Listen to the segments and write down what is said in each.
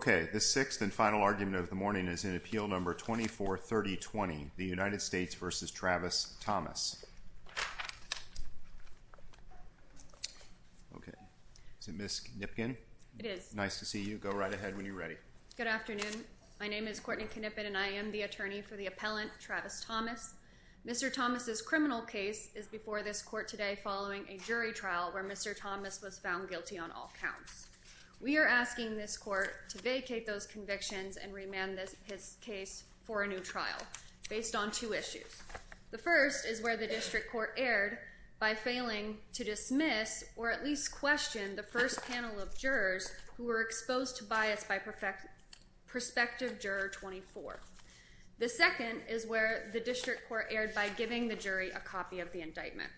Okay, the sixth and final argument of the morning is in Appeal No. 243020, the United States v. Travis Thomas. Okay. Is it Ms. Knipken? It is. Nice to see you. Go right ahead when you're ready. Good afternoon. My name is Courtney Knippen, and I am the attorney for the appellant, Travis Thomas. Mr. Thomas' criminal case is before this court today following a jury trial where Mr. Thomas was found guilty on all counts. We are asking this court to vacate those convictions and remand his case for a new trial based on two issues. The first is where the district court erred by failing to dismiss or at least question the first panel of jurors who were exposed to bias by Prospective Juror 24. The second is where the district court erred by giving the jury a copy of the indictment.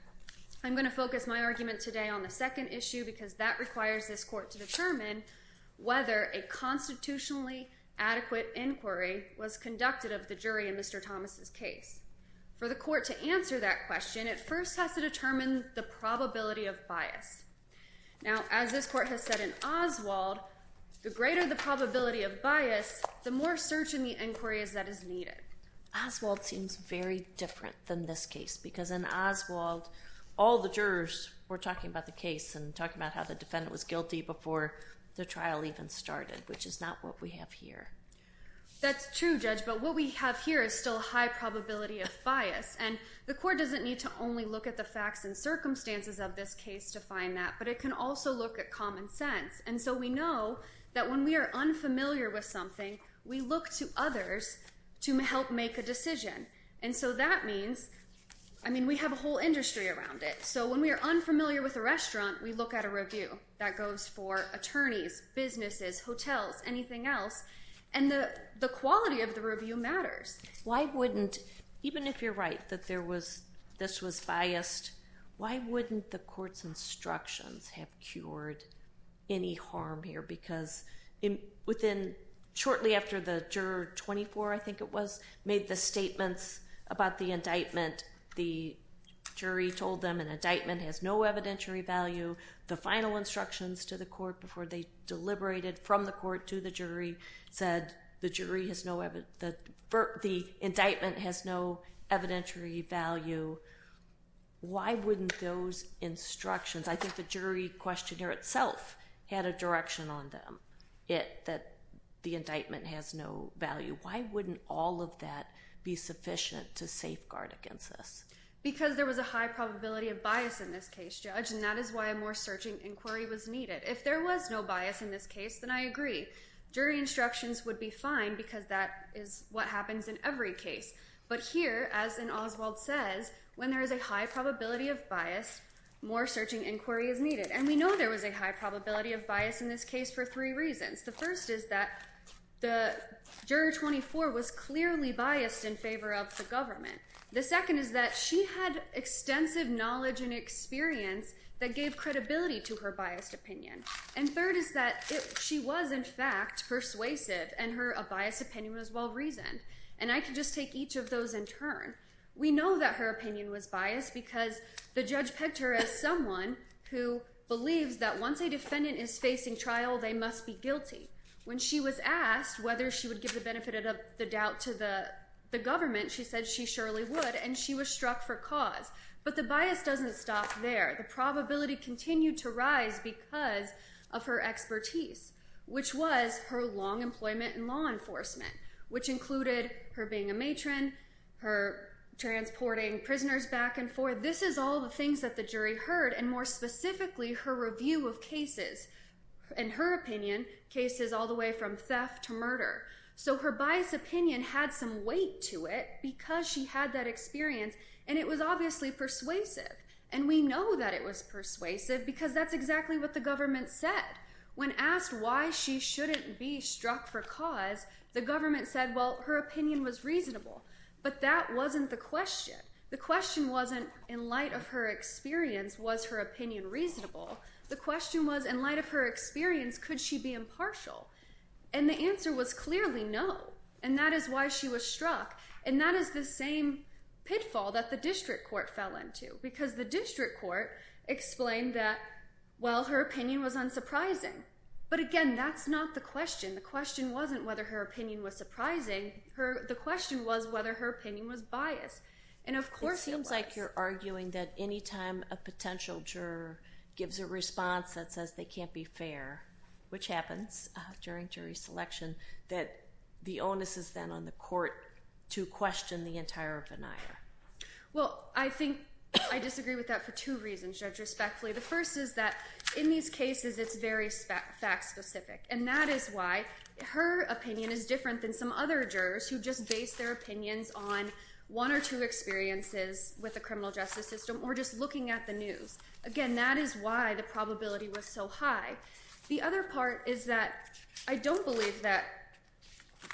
I'm going to focus my argument today on the second issue because that requires this court to determine whether a constitutionally adequate inquiry was conducted of the jury in Mr. Thomas' For the court to answer that question, it first has to determine the probability of Now, as this court has said in Oswald, the greater the probability of bias, the more search in the inquiry as that is needed. Oswald seems very different than this case because in Oswald, all the jurors were talking about the case and talking about how the defendant was guilty before the trial even started, which is not what we have here. That's true, Judge, but what we have here is still a high probability of bias. And the court doesn't need to only look at the facts and circumstances of this case to find that, but it can also look at common sense. And so we know that when we are unfamiliar with something, we look to others to help make a decision. And so that means, I mean, we have a whole industry around it. So when we are unfamiliar with a restaurant, we look at a review. That goes for attorneys, businesses, hotels, anything else. And the quality of the review matters. Why wouldn't, even if you're right that this was biased, why wouldn't the court's instructions have cured any harm here? Because shortly after the juror 24, I think it was, made the statements about the indictment, the jury told them an indictment has no evidentiary value. The final instructions to the court before they deliberated from the court to the jury said the indictment has no evidentiary value. Why wouldn't those instructions? I think the jury questionnaire itself had a direction on them, that the indictment has no value. Why wouldn't all of that be sufficient to safeguard against this? Because there was a high probability of bias in this case, Judge, and that is why a more searching inquiry was needed. If there was no bias in this case, then I agree. Jury instructions would be fine because that is what happens in every case. But here, as in Oswald says, when there is a high probability of bias, more searching inquiry is needed. And we know there was a high probability of bias in this case for three reasons. The first is that the juror 24 was clearly biased in favor of the government. The second is that she had extensive knowledge and experience that gave credibility to her biased opinion. And third is that she was, in fact, persuasive, and her biased opinion was well-reasoned. And I can just take each of those in turn. We know that her opinion was biased because the judge picked her as someone who believes that once a defendant is facing trial, they must be guilty. When she was asked whether she would give the benefit of the doubt to the government, she said she surely would, and she was struck for cause. But the bias doesn't stop there. The probability continued to rise because of her expertise, which was her long employment in law enforcement, which included her being a matron, her transporting prisoners back and forth. This is all the things that the jury heard, and more specifically, her review of cases. In her opinion, cases all the way from theft to murder. So her biased opinion had some weight to it because she had that experience, and it was obviously persuasive. And we know that it was persuasive because that's exactly what the government said. When asked why she shouldn't be struck for cause, the government said, well, her opinion was reasonable. But that wasn't the question. The question wasn't, in light of her experience, was her opinion reasonable? The question was, in light of her experience, could she be impartial? And the answer was clearly no. And that is why she was struck. And that is the same pitfall that the district court fell into. Because the district court explained that, well, her opinion was unsurprising. But again, that's not the question. The question wasn't whether her opinion was surprising. The question was whether her opinion was biased. And of course it was. It seems like you're arguing that any time a potential juror gives a response that says they can't be fair, which happens during jury selection, that the onus is then on the court to question the entire venire. Well, I think I disagree with that for two reasons, Judge, respectfully. The first is that in these cases, it's very fact-specific. And that is why her opinion is different than some other jurors who just base their opinions on one or two experiences with the criminal justice system or just looking at the news. Again, that is why the probability was so high. The other part is that I don't believe that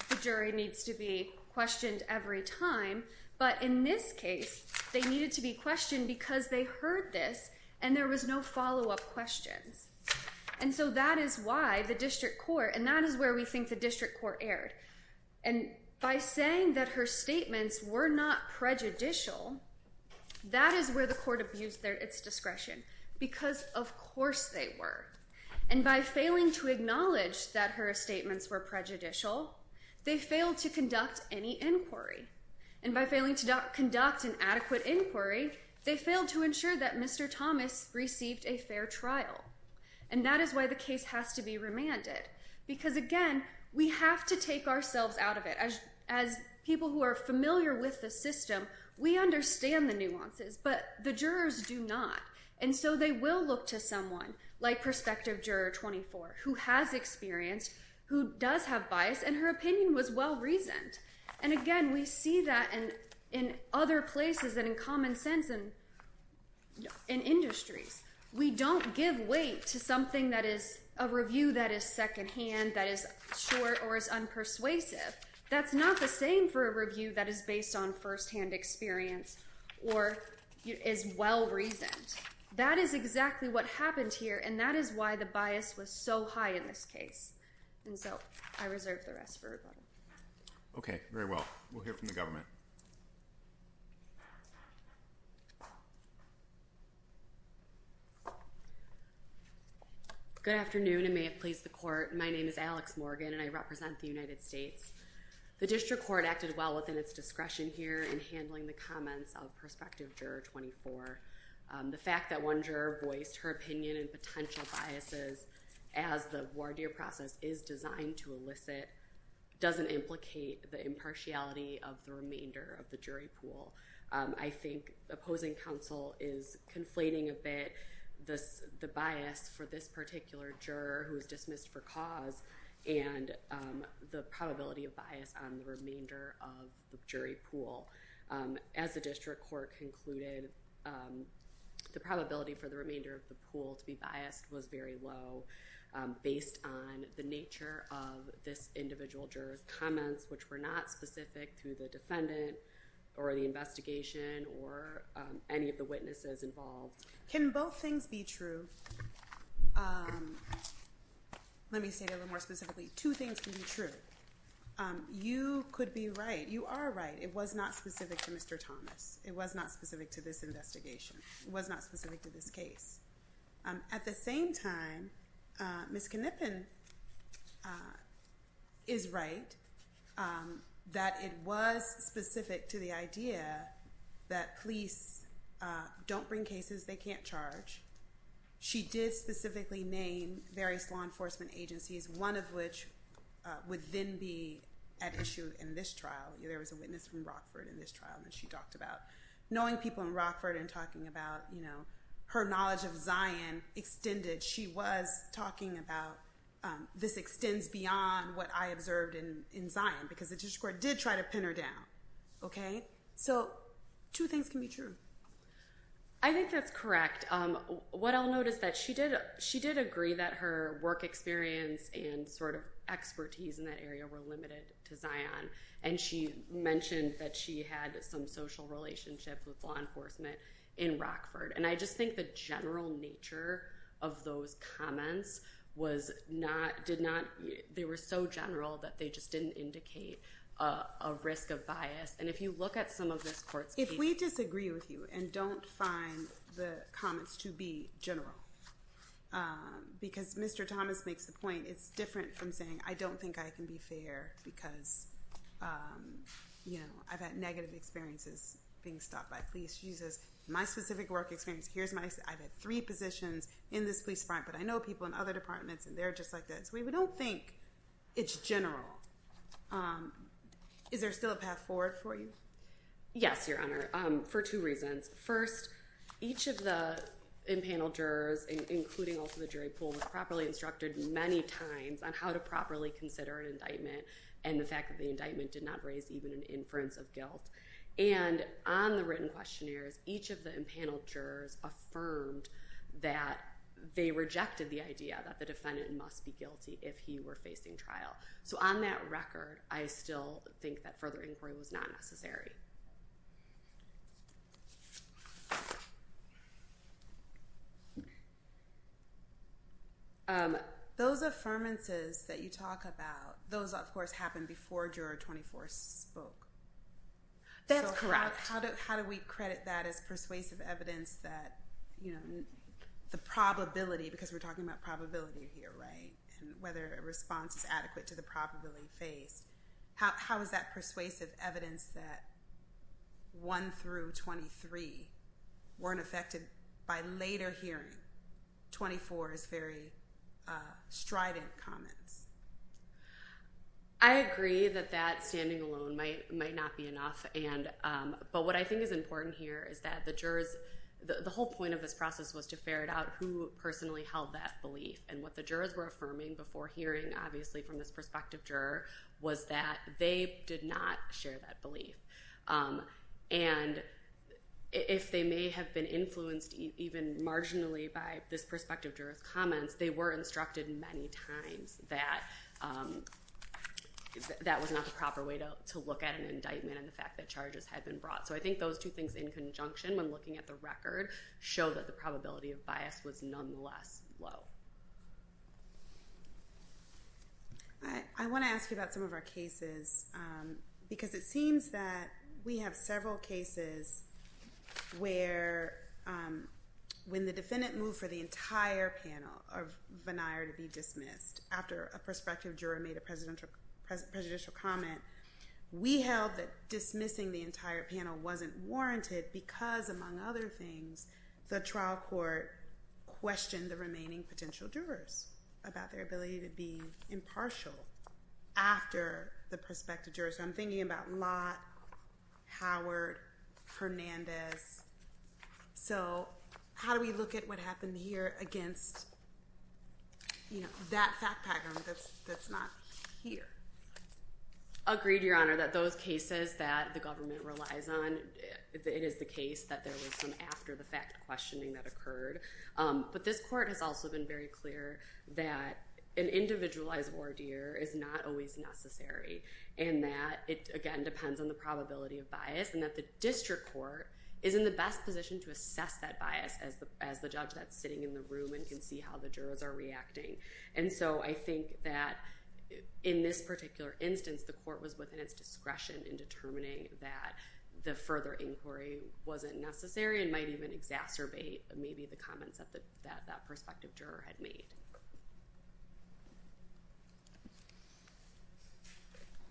the jury needs to be questioned every time. But in this case, they needed to be questioned because they heard this and there was no follow-up questions. And so that is why the district court, and that is where we think the district court erred. And by saying that her statements were not prejudicial, that is where the court abused its discretion. Because of course they were. And by failing to acknowledge that her statements were prejudicial, they failed to conduct any inquiry. And by failing to conduct an adequate inquiry, they failed to ensure that Mr. Thomas received a fair trial. And that is why the case has to be remanded. Because again, we have to take ourselves out of it. As people who are familiar with the system, we understand the nuances, but the jurors do not. And so they will look to someone like Prospective Juror 24, who has experience, who does have bias, and her opinion was well-reasoned. And again, we see that in other places and in common sense and in industries. We don't give weight to something that is a review that is second-hand, that is short or is unpersuasive. That's not the same for a review that is based on first-hand experience or is well-reasoned. That is exactly what happened here, and that is why the bias was so high in this case. And so I reserve the rest for rebuttal. Okay, very well. We'll hear from the government. Good afternoon, and may it please the Court. My name is Alex Morgan, and I represent the United States. The District Court acted well within its discretion here in handling the comments of Prospective Juror 24. The fact that one juror voiced her opinion and potential biases as the voir dire process is designed to elicit doesn't implicate the impartiality of the remainder of the jury pool. I think opposing counsel is conflating a bit the bias for this particular juror who is dismissed for cause and the probability of bias on the remainder of the jury pool. As the District Court concluded, the probability for the remainder of the pool to be biased was very low based on the nature of this individual juror's comments, which were not specific to the defendant or the investigation or any of the witnesses involved. Can both things be true? Let me say that a little more specifically. Two things can be true. You could be right. You are right. It was not specific to Mr. Thomas. It was not specific to this investigation. It was not specific to this case. At the same time, Ms. Knippen is right that it was specific to the idea that police don't bring cases they can't charge. She did specifically name various law enforcement agencies, one of which would then be at issue in this trial. There was a witness from Rockford in this trial that she talked about. Knowing people in Rockford and talking about her knowledge of Zion extended, she was talking about this extends beyond what I observed in Zion because the District Court did try to pin her down. So two things can be true. I think that's correct. What I'll note is that she did agree that her work experience and expertise in that area were limited to Zion. And she mentioned that she had some social relationships with law enforcement in Rockford. And I just think the general nature of those comments was not, did not, they were so general that they just didn't indicate a risk of bias. And if you look at some of this court's case. If we disagree with you and don't find the comments to be general, because Mr. Thomas makes the point, it's different from saying I don't think I can be fair because I've had negative experiences being stopped by police. She says my specific work experience, here's my, I've had three positions in this police department, but I know people in other departments and they're just like that. So we don't think it's general. Is there still a path forward for you? Yes, Your Honor, for two reasons. First, each of the impaneled jurors, including also the jury pool, was properly instructed many times on how to properly consider an indictment and the fact that the indictment did not raise even an inference of guilt. And on the written questionnaires, each of the impaneled jurors affirmed that they rejected the idea that the defendant must be guilty if he were facing trial. So on that record, I still think that further inquiry was not necessary. Those affirmances that you talk about, those, of course, happened before Juror 24 spoke. That's correct. So how do we credit that as persuasive evidence that the probability, because we're talking about probability here, right, and whether a response is adequate to the probability faced, how is that persuasive evidence that 1 through 23 weren't affected by later hearing 24's very strident comments? I agree that that standing alone might not be enough, but what I think is important here is that the jurors, the whole point of this process was to ferret out who personally held that belief, and what the jurors were affirming before hearing, obviously, from this prospective juror, was that they did not share that belief. And if they may have been influenced even marginally by this prospective juror's comments, they were instructed many times that that was not the proper way to look at an indictment and the fact that charges had been brought. So I think those two things in conjunction, when looking at the record, show that the probability of bias was nonetheless low. I want to ask you about some of our cases, because it seems that we have several cases where, when the defendant moved for the entire panel of Vennire to be dismissed after a prospective juror made a prejudicial comment, we held that dismissing the entire panel wasn't warranted because, among other things, the trial court questioned the remaining potential jurors about their ability to be impartial after the prospective jurors. So I'm thinking about Lott, Howard, Fernandez. So how do we look at what happened here against that fact pattern that's not here? I agree, Your Honor, that those cases that the government relies on, it is the case that there was some after-the-fact questioning that occurred. But this court has also been very clear that an individualized ordeal is not always necessary and that it, again, depends on the probability of bias and that the district court is in the best position to assess that bias as the judge that's sitting in the room and can see how the jurors are reacting. And so I think that in this particular instance, the court was within its discretion in determining that the further inquiry wasn't necessary and might even exacerbate maybe the comments that that prospective juror had made.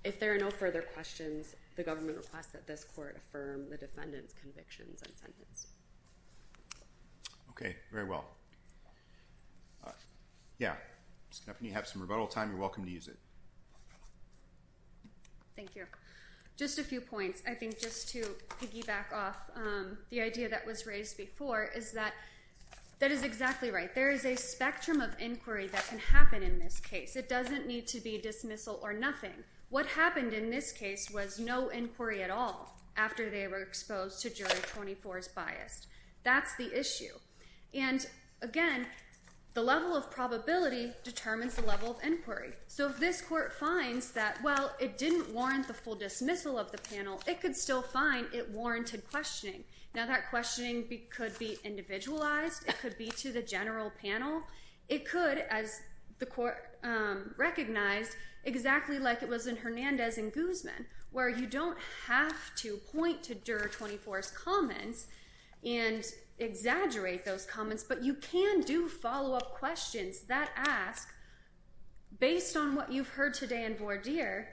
If there are no further questions, the government requests that this court affirm the defendant's convictions and sentence. Okay, very well. Yeah, if you have some rebuttal time, you're welcome to use it. Thank you. Just a few points. I think just to piggyback off the idea that was raised before is that that is exactly right. There is a spectrum of inquiry that can happen in this case. It doesn't need to be dismissal or nothing. What happened in this case was no inquiry at all after they were exposed to jury 24 as biased. That's the issue. And, again, the level of probability determines the level of inquiry. So if this court finds that, well, it didn't warrant the full dismissal of the panel, it could still find it warranted questioning. Now, that questioning could be individualized. It could be to the general panel. It could, as the court recognized, exactly like it was in Hernandez and Guzman, where you don't have to point to jury 24's comments and exaggerate those comments, but you can do follow-up questions that ask, based on what you've heard today in Vourdir,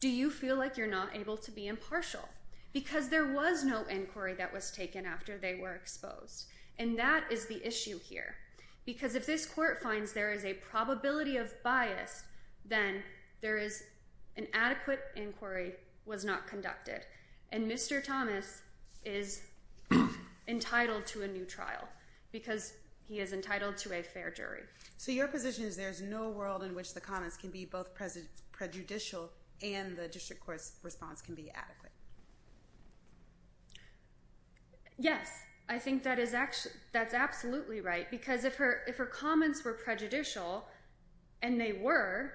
do you feel like you're not able to be impartial? Because there was no inquiry that was taken after they were exposed. And that is the issue here. Because if this court finds there is a probability of bias, then there is an adequate inquiry was not conducted. And Mr. Thomas is entitled to a new trial because he is entitled to a fair jury. So your position is there is no world in which the comments can be both prejudicial and the district court's response can be adequate? Yes. I think that is absolutely right. Because if her comments were prejudicial, and they were,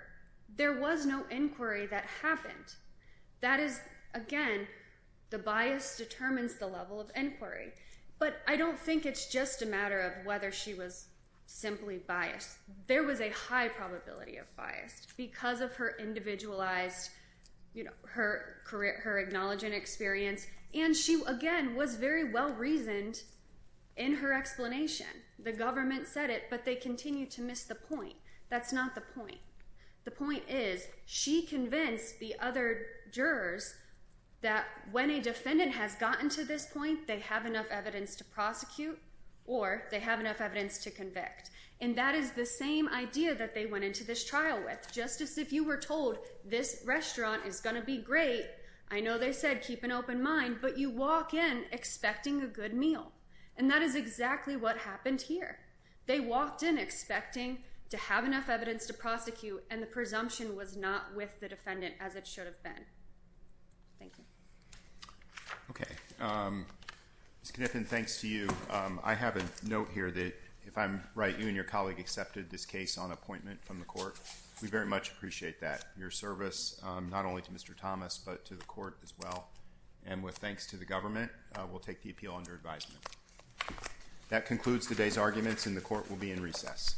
there was no inquiry that happened. That is, again, the bias determines the level of inquiry. But I don't think it's just a matter of whether she was simply biased. There was a high probability of bias because of her individualized, you know, her acknowledging experience. And she, again, was very well reasoned in her explanation. The government said it, but they continue to miss the point. That's not the point. The point is she convinced the other jurors that when a defendant has gotten to this point, they have enough evidence to prosecute or they have enough evidence to convict. And that is the same idea that they went into this trial with. Just as if you were told this restaurant is going to be great, I know they said keep an open mind, but you walk in expecting a good meal. And that is exactly what happened here. They walked in expecting to have enough evidence to prosecute, and the presumption was not with the defendant as it should have been. Thank you. Okay. Ms. Kniffen, thanks to you. I have a note here that if I'm right, you and your colleague accepted this case on appointment from the court. We very much appreciate that, your service not only to Mr. Thomas but to the court as well. And with thanks to the government, we'll take the appeal under advisement. That concludes today's arguments, and the court will be in recess.